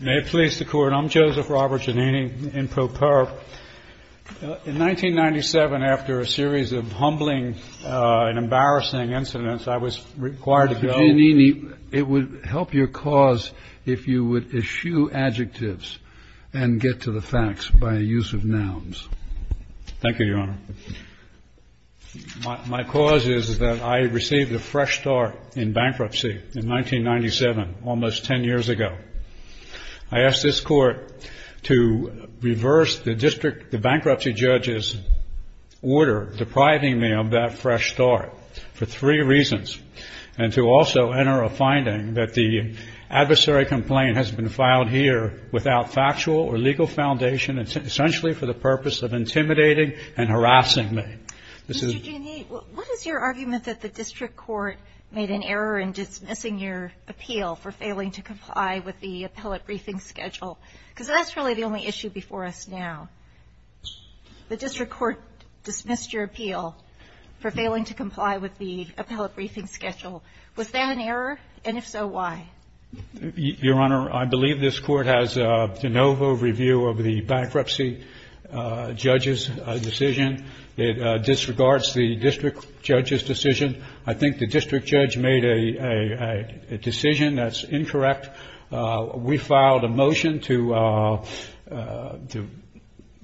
May it please the Court, I'm Joseph Robert Giannini in Pro Perp. In 1997, after a series of humbling and embarrassing incidents, I was required to go... Mr. Giannini, it would help your cause if you would eschew adjectives and get to the facts by use of nouns. Thank you, Your Honor. My cause is that I received a fresh start in bankruptcy in 1997, almost ten years ago. I asked this Court to reverse the bankruptcy judge's order depriving me of that fresh start for three reasons and to also enter a finding that the adversary complaint has been filed here without factual or legal foundation essentially for the purpose of intimidating and harassing me. Mr. Giannini, what is your argument that the district court made an error in dismissing your appeal for failing to comply with the appellate briefing schedule? Because that's really the only issue before us now. The district court dismissed your appeal for failing to comply with the appellate briefing schedule. Was that an error? And if so, why? Your Honor, I believe this Court has de novo review of the bankruptcy judge's decision. It disregards the district judge's decision. I think the district judge made a decision that's incorrect. We filed a motion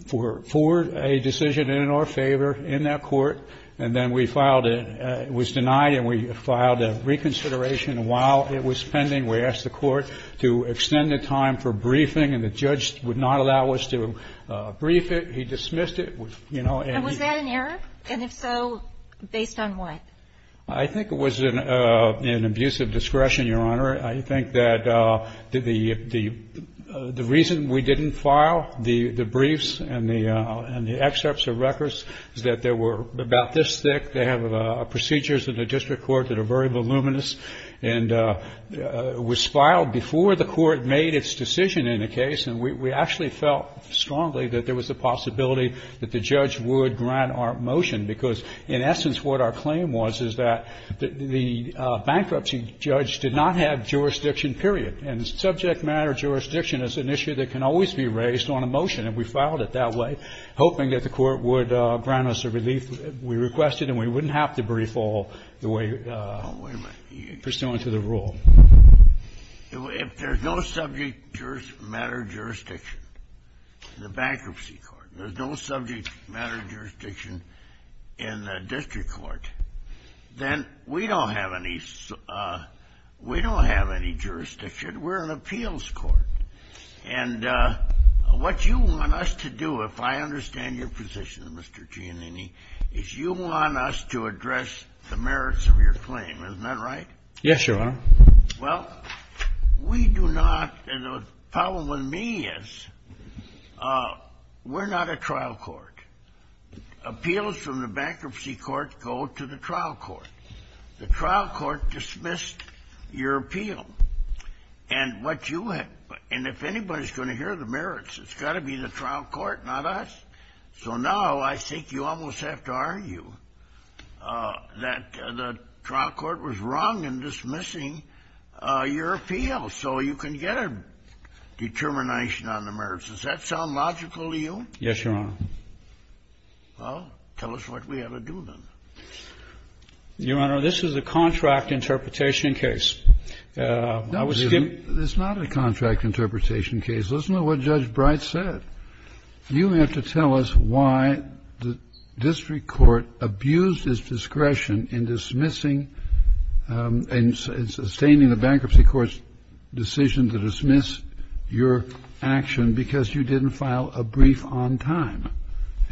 for a decision in our favor in that court, and then we filed it. And we asked the court to extend the time for briefing, and the judge would not allow us to brief it. He dismissed it. And was that an error? And if so, based on what? I think it was an abuse of discretion, Your Honor. I think that the reason we didn't file the briefs and the excerpts of records is that they were about this thick. They have procedures in the district court that are very voluminous. And it was filed before the court made its decision in the case. And we actually felt strongly that there was a possibility that the judge would grant our motion, because in essence what our claim was is that the bankruptcy judge did not have jurisdiction, period. And subject matter jurisdiction is an issue that can always be raised on a motion. And we filed it that way, hoping that the court would grant us a relief. We requested, and we wouldn't have to brief all the way. Oh, wait a minute. Pursuant to the rule. If there's no subject matter jurisdiction in the bankruptcy court, there's no subject matter jurisdiction in the district court, then we don't have any jurisdiction. We're an appeals court. And what you want us to do, if I understand your position, Mr. Giannini, is you want us to address the merits of your claim. Isn't that right? Yes, Your Honor. Well, we do not, and the problem with me is we're not a trial court. Appeals from the bankruptcy court go to the trial court. The trial court dismissed your appeal. And what you have to do, and if anybody's going to hear the merits, it's got to be the trial court, not us. So now I think you almost have to argue that the trial court was wrong in dismissing your appeal, so you can get a determination on the merits. Does that sound logical to you? Yes, Your Honor. Well, tell us what we ought to do, then. Your Honor, this is a contract interpretation case. No, it's not a contract interpretation case. Listen to what Judge Bright said. You have to tell us why the district court abused its discretion in dismissing and sustaining the bankruptcy court's decision to dismiss your action because you didn't file a brief on time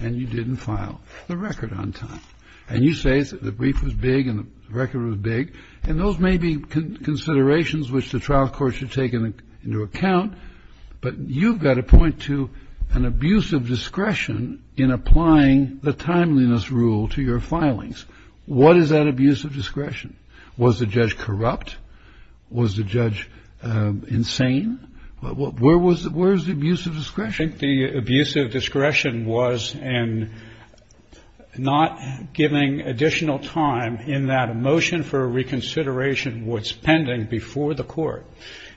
and you didn't file the record on time. And you say the brief was big and the record was big, and those may be considerations which the trial court should take into account, but you've got to point to an abuse of discretion in applying the timeliness rule to your filings. What is that abuse of discretion? Was the judge corrupt? Where was the abuse of discretion? I think the abuse of discretion was in not giving additional time in that a motion for reconsideration was pending before the court,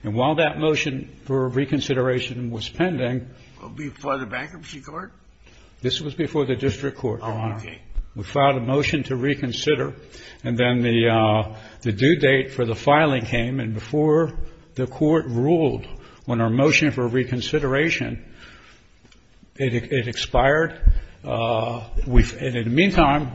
and while that motion for reconsideration was pending. Before the bankruptcy court? This was before the district court. Oh, okay. We filed a motion to reconsider, and then the due date for the filing came, and before the court ruled on our motion for reconsideration, it expired. And in the meantime,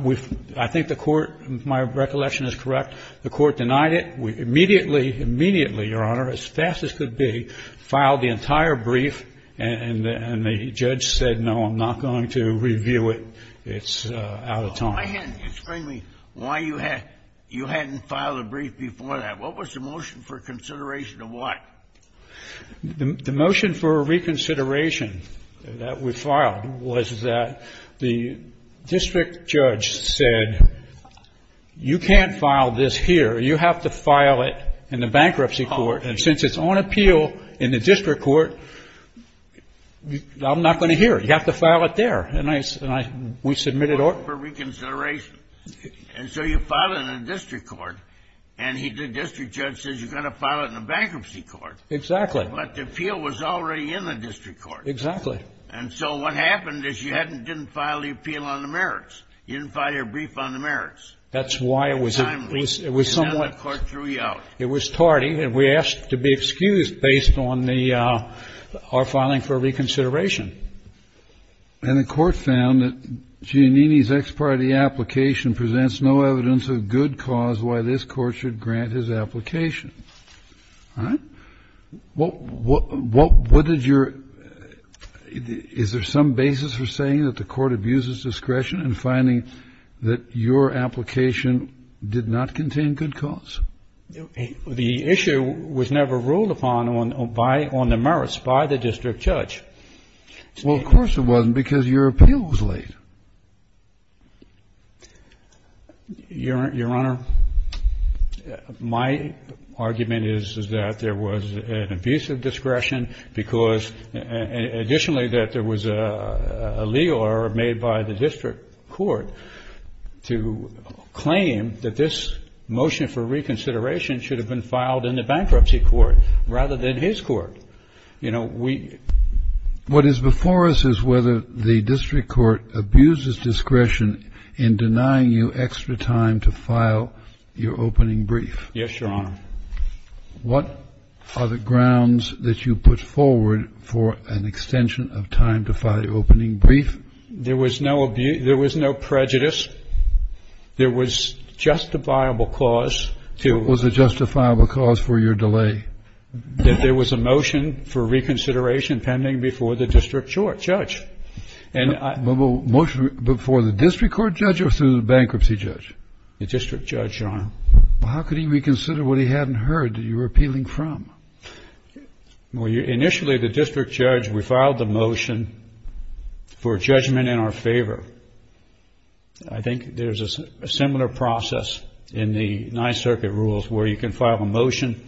I think the court, my recollection is correct, the court denied it. We immediately, immediately, Your Honor, as fast as could be, filed the entire brief, and the judge said, no, I'm not going to review it. It's out of time. Why hadn't you explained to me why you hadn't filed a brief before that? What was the motion for consideration of what? The motion for reconsideration that we filed was that the district judge said, you can't file this here. You have to file it in the bankruptcy court, and since it's on appeal in the district court, I'm not going to hear it. You have to file it there. We submitted our motion for reconsideration, and so you file it in the district court, and the district judge says you've got to file it in the bankruptcy court. Exactly. But the appeal was already in the district court. Exactly. And so what happened is you didn't file the appeal on the merits. You didn't file your brief on the merits. That's why it was somewhat. And now the court threw you out. It was tardy, and we asked to be excused based on our filing for reconsideration. And the court found that Giannini's ex parte application presents no evidence of good cause why this court should grant his application. All right. What did your ñ is there some basis for saying that the court abuses discretion in finding that your application did not contain good cause? The issue was never ruled upon on the merits by the district judge. Well, of course it wasn't because your appeal was late. Your Honor, my argument is that there was an abuse of discretion because additionally that there was a legal error made by the district court to claim that this motion for reconsideration should have been filed in the bankruptcy court rather than his court. You know, we ñ What is before us is whether the district court abuses discretion in denying you extra time to file your opening brief. Yes, Your Honor. What are the grounds that you put forward for an extension of time to file your opening brief? There was no abuse ñ there was no prejudice. There was justifiable cause to ñ Was there justifiable cause for your delay? That there was a motion for reconsideration pending before the district judge. And I ñ Before the district court judge or through the bankruptcy judge? The district judge, Your Honor. Well, how could he reconsider what he hadn't heard that you were appealing from? Well, initially the district judge, we filed the motion for judgment in our favor. I think there's a similar process in the Ninth Circuit rules where you can file a motion,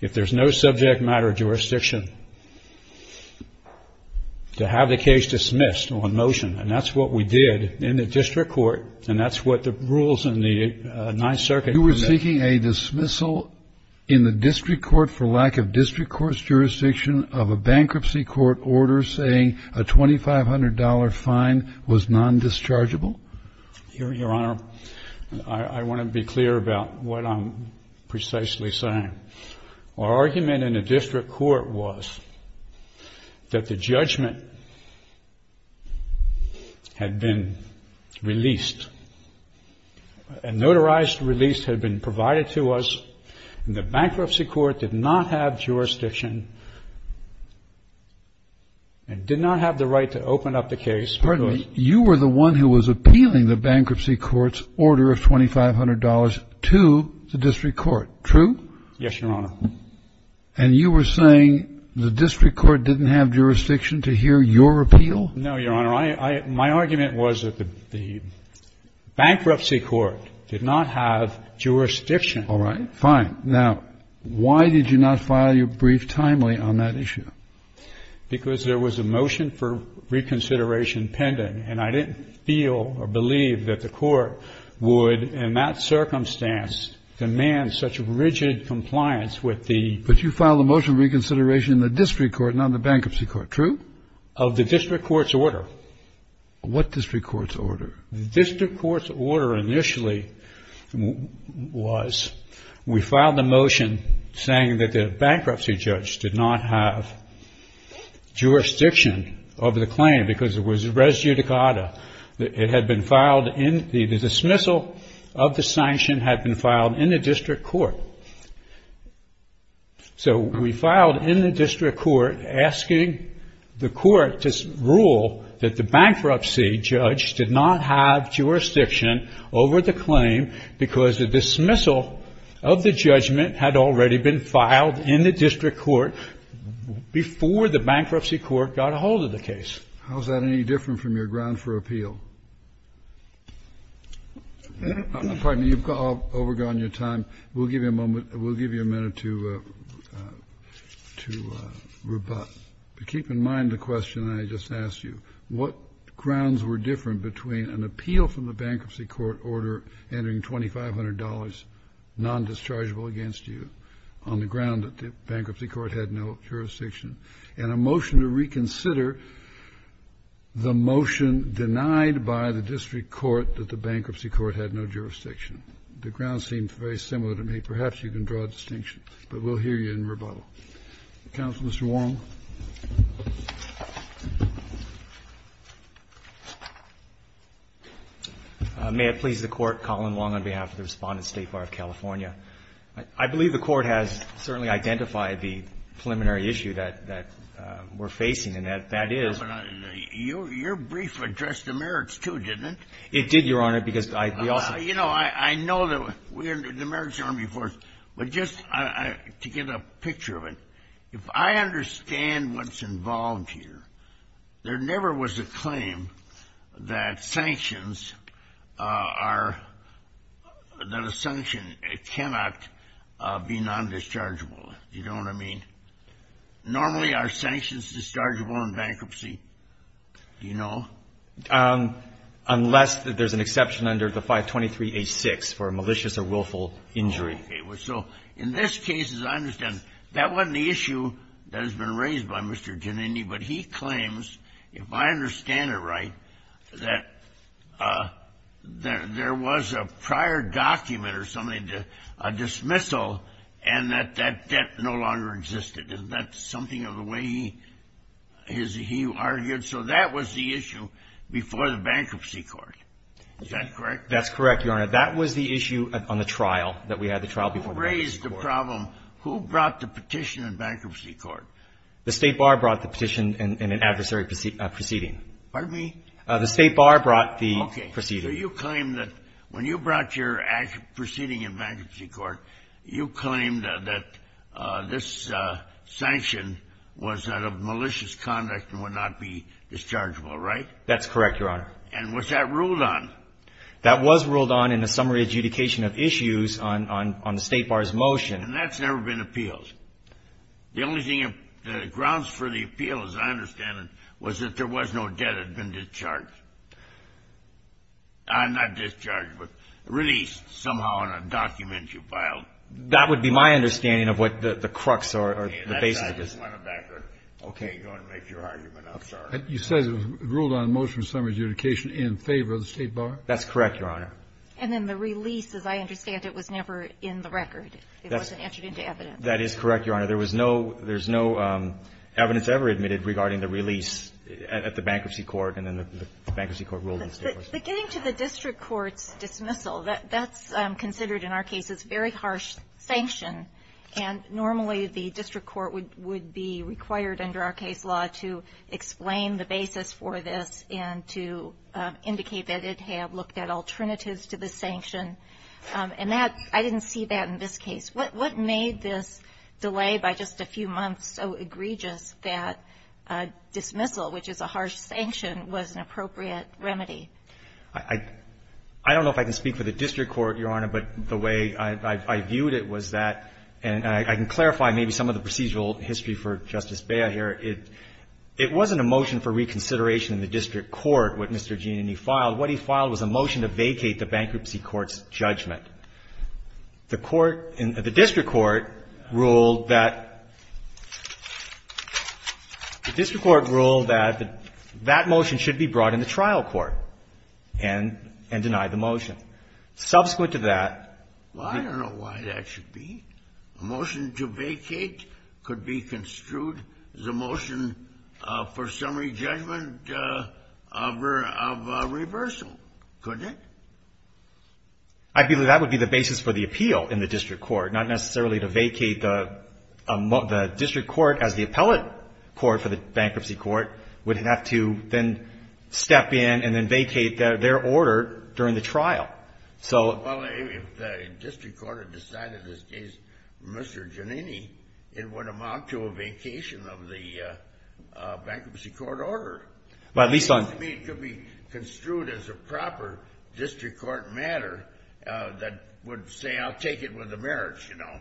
if there's no subject matter jurisdiction, to have the case dismissed on motion. And that's what we did in the district court, and that's what the rules in the Ninth Circuit ñ You were seeking a dismissal in the district court for lack of district court's jurisdiction of a bankruptcy court order and you're saying a $2,500 fine was non-dischargeable? Your Honor, I want to be clear about what I'm precisely saying. Our argument in the district court was that the judgment had been released. A notarized release had been provided to us, and the bankruptcy court did not have jurisdiction and did not have the right to open up the case because ñ Pardon me. You were the one who was appealing the bankruptcy court's order of $2,500 to the district court, true? Yes, Your Honor. And you were saying the district court didn't have jurisdiction to hear your appeal? No, Your Honor. My argument was that the bankruptcy court did not have jurisdiction. All right. Fine. Now, why did you not file your brief timely on that issue? Because there was a motion for reconsideration pending, and I didn't feel or believe that the court would, in that circumstance, demand such rigid compliance with the ñ But you filed a motion for reconsideration in the district court, not in the bankruptcy court, true? Of the district court's order. What district court's order? The district court's order initially was we filed a motion saying that the bankruptcy judge did not have jurisdiction of the claim because it was res judicata. It had been filed in ñ the dismissal of the sanction had been filed in the district court. So we filed in the district court asking the court to rule that the bankruptcy judge did not have jurisdiction over the claim because the dismissal of the judgment had already been filed in the district court before the bankruptcy court got a hold of the case. How is that any different from your ground for appeal? Pardon me. You've overgone your time. We'll give you a moment ñ we'll give you a minute to ñ to rebut. But keep in mind the question I just asked you. What grounds were different between an appeal from the bankruptcy court order entering $2,500 non-dischargeable against you on the ground that the bankruptcy court had no jurisdiction and a motion to reconsider the motion denied by the district court that the bankruptcy court had no jurisdiction? The grounds seem very similar to me. Perhaps you can draw a distinction. But we'll hear you in rebuttal. Counsel, Mr. Wong. May it please the Court, Colin Wong on behalf of the Respondent State Bar of California. I believe the Court has certainly identified the preliminary issue that ñ that we're facing, and that ñ that is ñ Your ñ your brief addressed the merits, too, didn't it? It did, Your Honor, because I ñ we also ñ Well, you know, I ñ I know that we're ñ the Merits Army Force. But just ñ I ñ to get a picture of it, if I understand what's involved here, there never was a claim that sanctions are ñ that a sanction cannot be non-dischargeable. Do you know what I mean? Normally, are sanctions dischargeable in bankruptcy? Do you know? Unless there's an exception under the 523-H6 for a malicious or willful injury. Okay. So in this case, as I understand, that wasn't the issue that has been raised by Mr. Giannini, but he claims, if I understand it right, that there was a prior document or something to ñ a dismissal, and that that debt no longer existed. Isn't that something of the way he ñ he argued? So that was the issue before the Bankruptcy Court. Is that correct? That's correct, Your Honor. That was the issue on the trial, that we had the trial before the Bankruptcy Court. Who raised the problem? Who brought the petition in Bankruptcy Court? The State Bar brought the petition in an adversary proceeding. Pardon me? The State Bar brought the proceeding. Okay. So you claim that when you brought your proceeding in Bankruptcy Court, you claimed that this sanction was out of malicious conduct and would not be dischargeable, right? That's correct, Your Honor. And was that ruled on? That was ruled on in the summary adjudication of issues on the State Bar's motion. And that's never been appealed? The only thing ñ the grounds for the appeal, as I understand it, was that there was no debt that had been discharged. Not discharged, but released somehow in a document you filed. That would be my understanding of what the crux or the basis of this is. Okay. You're going to make your argument. I'm sorry. You said it was ruled on in the motion of summary adjudication in favor of the State Bar? That's correct, Your Honor. And then the release, as I understand it, was never in the record? It wasn't entered into evidence? That is correct, Your Honor. There was no ñ there's no evidence ever admitted regarding the release at the Bankruptcy Court, and then the Bankruptcy Court ruled in favor of the State Bar. Getting to the district court's dismissal, that's considered in our cases very harsh sanction. And normally the district court would be required under our case law to explain the basis for this and to indicate that it had looked at alternatives to the sanction. And that ñ I didn't see that in this case. What made this delay by just a few months so egregious that dismissal, which is a harsh sanction, was an appropriate remedy? I don't know if I can speak for the district court, Your Honor. But the way I viewed it was that ñ and I can clarify maybe some of the procedural history for Justice Bea here. It wasn't a motion for reconsideration in the district court, what Mr. Giannini filed. What he filed was a motion to vacate the Bankruptcy Court's judgment. The court in ñ the district court ruled that ñ the district court ruled that the ñ that motion should be brought in the trial court and ñ and deny the motion. Subsequent to that ñ Well, I don't know why that should be. A motion to vacate could be construed as a motion for summary judgment of a ñ of a reversal, couldn't it? I believe that would be the basis for the appeal in the district court, not necessarily to vacate the district court as the appellate court for the Bankruptcy Court would have to then step in and then vacate their order during the trial. So ñ Well, if the district court had decided in this case, Mr. Giannini, it would amount to a vacation of the Bankruptcy Court order. Well, at least on ñ To me, it could be construed as a proper district court matter that would say, I'll take it with the merits, you know.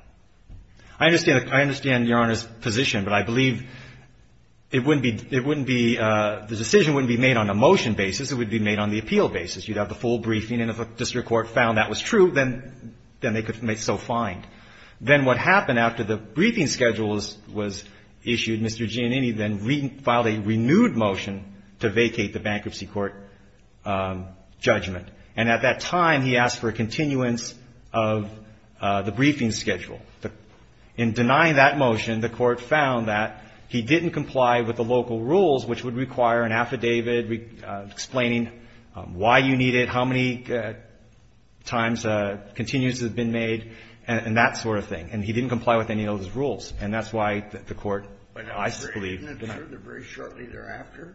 I understand ñ I understand Your Honor's position, but I believe it wouldn't be ñ it wouldn't be ñ the decision wouldn't be made on a motion basis, it would be made on the appeal basis. You'd have the full briefing, and if a district court found that was true, then they could make ñ so find. Then what happened after the briefing schedule was issued, Mr. Giannini then filed a renewed motion to vacate the Bankruptcy Court judgment. And at that time, he asked for a continuance of the briefing schedule. In denying that motion, the court found that he didn't comply with the local rules, which would require an affidavit explaining why you need it, how many times continuances have been made, and that sort of thing. And he didn't comply with any of those rules. And that's why the court, I believe ñ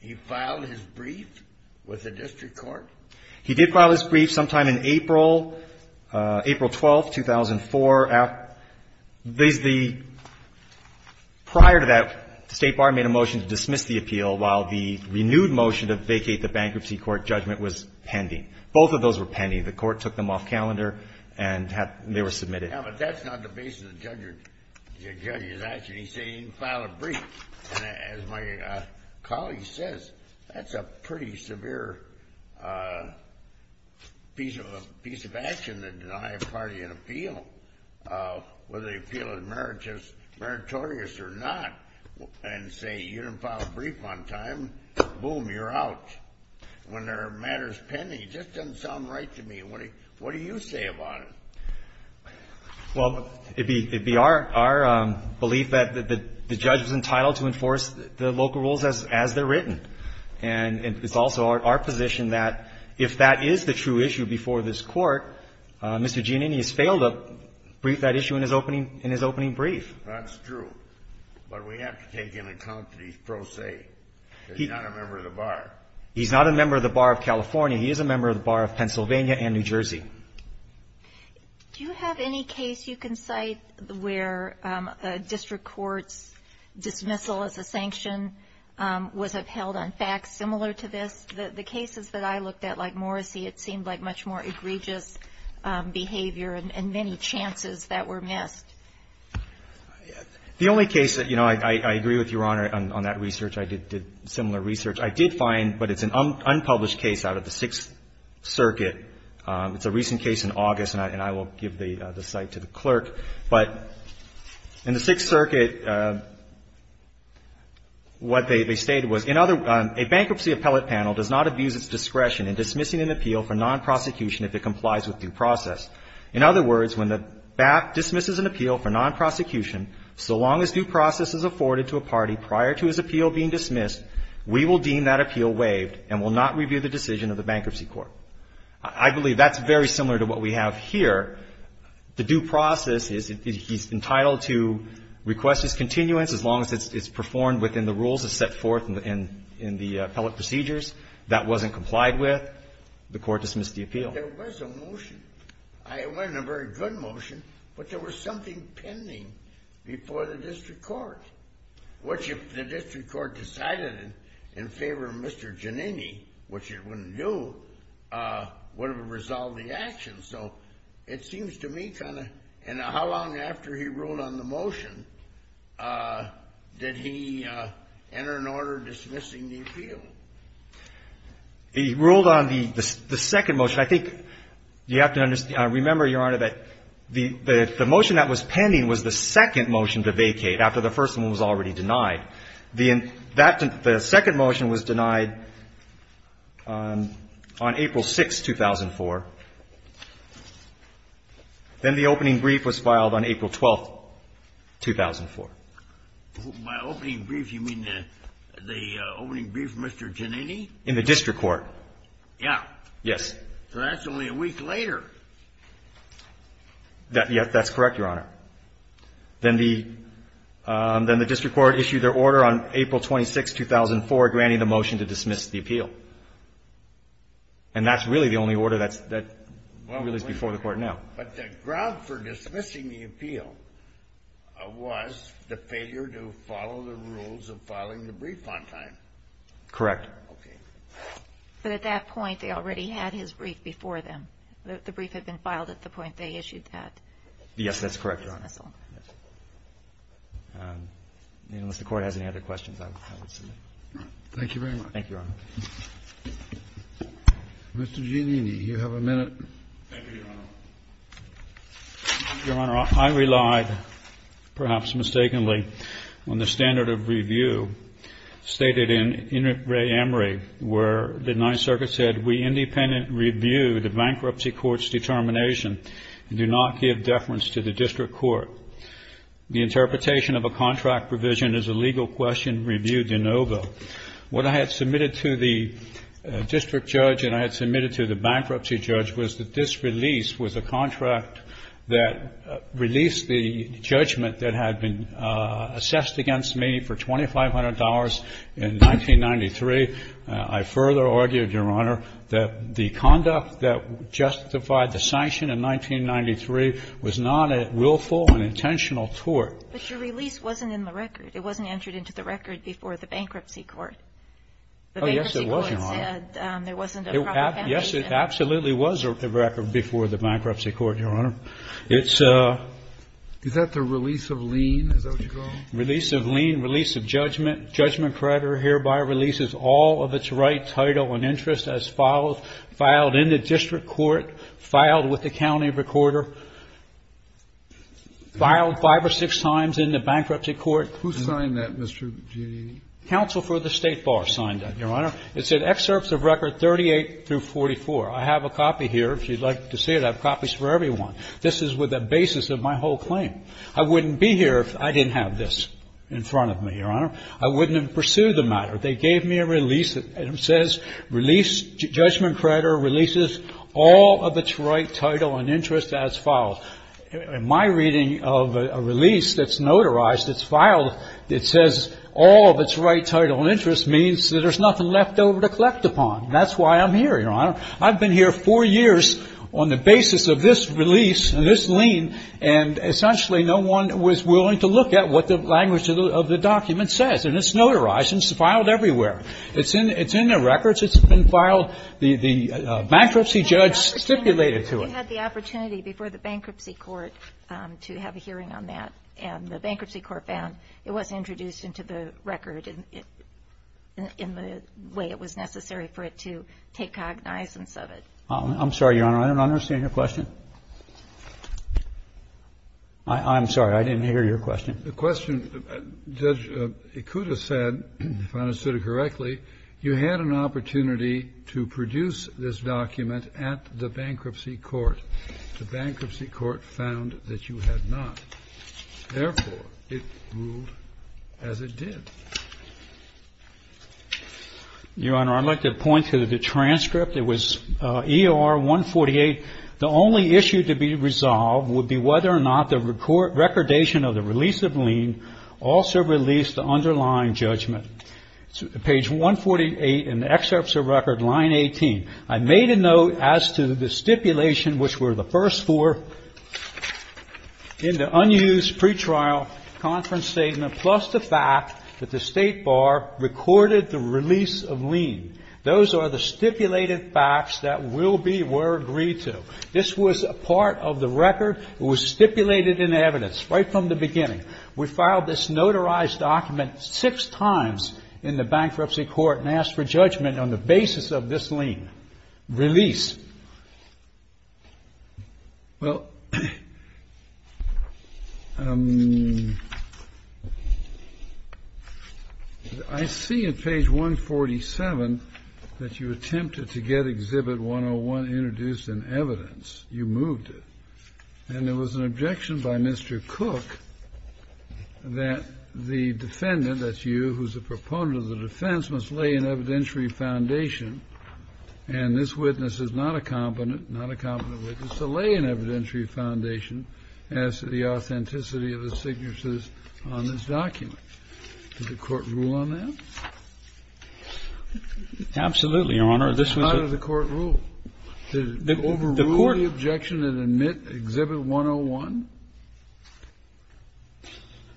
He did file his brief sometime in April ñ April 12th, 2004. There's the ñ prior to that, the State Bar made a motion to dismiss the appeal while the renewed motion to vacate the Bankruptcy Court judgment was pending. Both of those were pending. The court took them off calendar and had ñ they were submitted. Yeah, but that's not the basis of the judgeís action. He said he didn't file a brief. And as my colleague says, that's a pretty severe piece of action to deny a party an appeal, whether they feel it meritorious or not, and say you didn't file a brief on time, boom, you're out. When there are matters pending, it just doesn't sound right to me. What do you say about it? Well, it'd be ñ it'd be our belief that the judge was entitled to enforce the local rules as they're written. And it's also our position that if that is the true issue before this Court, Mr. Giannini has failed to brief that issue in his opening ñ in his opening brief. That's true. But we have to take into account that he's pro se. He's not a member of the Bar. He's not a member of the Bar of California. He is a member of the Bar of Pennsylvania and New Jersey. Do you have any case you can cite where a district court's dismissal as a sanction was upheld on facts similar to this? The cases that I looked at, like Morrissey, it seemed like much more egregious behavior and many chances that were missed. The only case that ñ you know, I agree with Your Honor on that research. I did similar research. I did find ñ but it's an unpublished case out of the Sixth Circuit. It's a recent case in August, and I will give the cite to the clerk. But in the Sixth Circuit, what they stated was, ìIn other words, a bankruptcy appellate panel does not abuse its discretion in dismissing an appeal for nonprosecution if it complies with due process. In other words, when the BAP dismisses an appeal for nonprosecution, so long as due process is ñ he's entitled to request his continuance as long as it's performed within the rules as set forth in the appellate procedures. That wasn't complied with, the court dismissed the appeal. There was a motion. It wasn't a very good motion, but there was something pending before the district court, which if the district court decided in favor of Mr. Giannini, which it wouldn't do, would have resolved the action. So it seems to me kind of ñ and how long after he ruled on the motion did he enter an order dismissing the appeal? He ruled on the second motion. I think you have to remember, Your Honor, that the motion that was pending was the first one was already denied. The second motion was denied on April 6, 2004. Then the opening brief was filed on April 12, 2004. By opening brief, you mean the opening brief for Mr. Giannini? In the district court. Yeah. Yes. So that's only a week later. Yes, that's correct, Your Honor. Then the district court issued their order on April 26, 2004, granting the motion to dismiss the appeal. And that's really the only order that's ñ that really is before the court now. But the ground for dismissing the appeal was the failure to follow the rules of filing the brief on time. Correct. Okay. But at that point, they already had his brief before them. The brief had been filed at the point they issued that. Yes, that's correct, Your Honor. That's all right. Unless the Court has any other questions, I would submit. Thank you very much. Thank you, Your Honor. Mr. Giannini, you have a minute. Thank you, Your Honor. Your Honor, I relied, perhaps mistakenly, on the standard of review stated in In Re Emery, where the Ninth Circuit said, We independently review the bankruptcy court's determination and do not give deference to the district court. The interpretation of a contract provision is a legal question reviewed in OVO. What I had submitted to the district judge and I had submitted to the bankruptcy judge was that this release was a contract that released the judgment that had been assessed against me for $2,500 in 1993. I further argued, Your Honor, that the conduct that justified the sanction in 1993 was not a willful and intentional tort. But your release wasn't in the record. It wasn't entered into the record before the bankruptcy court. Oh, yes, it was, Your Honor. The bankruptcy court said there wasn't a proper foundation. Yes, it absolutely was a record before the bankruptcy court, Your Honor. It's a ---- Is that the release of lien, is that what you call it? Release of lien. Release of judgment. Judgment creditor hereby releases all of its rights, title and interest as follows, filed in the district court, filed with the county recorder, filed five or six times in the bankruptcy court. Who signed that, Mr. Gideon? Counsel for the State Bar signed that, Your Honor. It said excerpts of record 38 through 44. I have a copy here. If you'd like to see it, I have copies for everyone. This is with a basis of my whole claim. I wouldn't be here if I didn't have this in front of me, Your Honor. I wouldn't have pursued the matter. They gave me a release that says release judgment creditor releases all of its right, title and interest as follows. In my reading of a release that's notarized, it's filed, it says all of its right, title and interest means that there's nothing left over to collect upon. That's why I'm here, Your Honor. I've been here four years on the basis of this release and this lien, and essentially no one was willing to look at what the language of the document says. And it's notarized and it's filed everywhere. It's in the records. It's been filed. The bankruptcy judge stipulated to it. You had the opportunity before the bankruptcy court to have a hearing on that, and the bankruptcy court found it wasn't introduced into the record in the way it was necessary for it to take cognizance of it. I'm sorry, Your Honor. I don't understand your question. I'm sorry. I didn't hear your question. The question, Judge Ikuda said, if I understood it correctly, you had an opportunity to produce this document at the bankruptcy court. The bankruptcy court found that you had not. Therefore, it ruled as it did. Your Honor, I'd like to point to the transcript. It was EOR 148. The only issue to be resolved would be whether or not the recordation of the release of lien also released the underlying judgment. Page 148 in the excerpts of record, line 18, I made a note as to the stipulation, which were the first four in the unused pretrial conference statement, plus the fact that the State Bar recorded the release of lien. Those are the stipulated facts that will be or were agreed to. This was a part of the record. It was stipulated in evidence right from the beginning. We filed this notarized document six times in the bankruptcy court and asked for judgment on the basis of this lien release. Well, I see at page 147 that you attempted to get Exhibit 101 introduced in evidence. You moved it. And there was an objection by Mr. Cook that the defendant, that's you, who's the proponent of the defense, must lay an evidentiary foundation. And this witness is not a competent, not a competent witness, to lay an evidentiary foundation as to the authenticity of the signatures on this document. Did the Court rule on that? Absolutely, Your Honor. This was a part of the Court rule. Did it overrule the objection and admit Exhibit 101?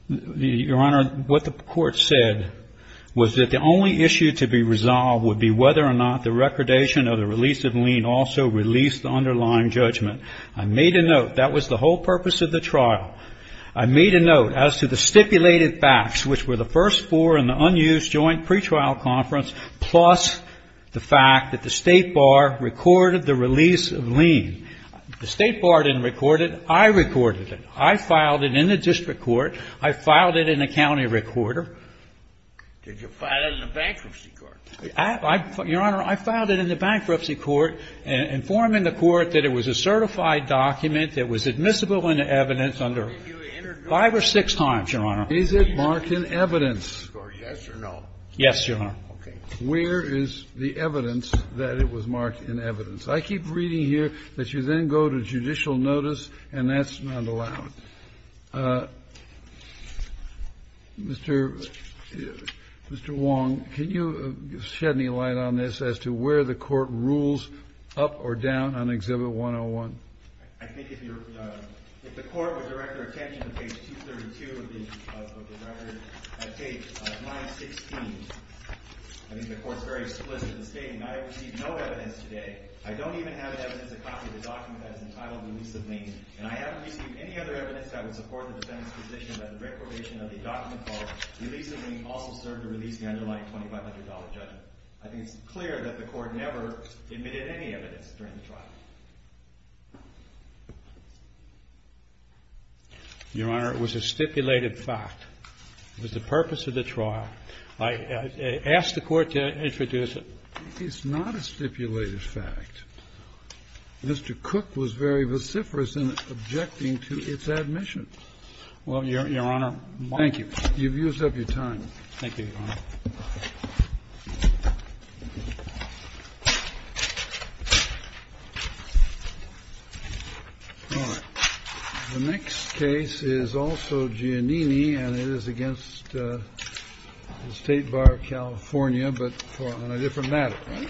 Your Honor, what the Court said was that the only issue to be resolved would be whether or not the recordation of the release of lien also released the underlying judgment. I made a note. That was the whole purpose of the trial. I made a note as to the stipulated facts, which were the first four in the unused joint pretrial conference, plus the fact that the State Bar recorded the release of lien. The State Bar didn't record it. I recorded it. I filed it in the district court. I filed it in the county recorder. Did you file it in the bankruptcy court? Your Honor, I filed it in the bankruptcy court, informing the court that it was a certified document that was admissible in the evidence under five or six times, Your Honor. Is it marked in evidence? Yes or no? Yes, Your Honor. Okay. Where is the evidence that it was marked in evidence? I keep reading here that you then go to judicial notice, and that's not allowed. Mr. Wong, can you shed any light on this as to where the court rules up or down on Exhibit 101? I think if the court would direct their attention to page 232 of the record at page 916, I think the court is very explicit in stating I have received no evidence today. I don't even have evidence to copy the document that is entitled Release of Lien. And I haven't received any other evidence that would support the defendant's position that the recordation of the document called Release of Lien also served to release the underlying $2,500 judgment. I think it's clear that the court never admitted any evidence during the trial. Your Honor, it was a stipulated fact. It was the purpose of the trial. I asked the court to introduce it. It's not a stipulated fact. Mr. Cook was very vociferous in objecting to its admission. Well, Your Honor, my ---- Thank you. You've used up your time. Thank you, Your Honor. All right. The next case is also Giannini, and it is against the State Bar of California, but on a different matter. All right.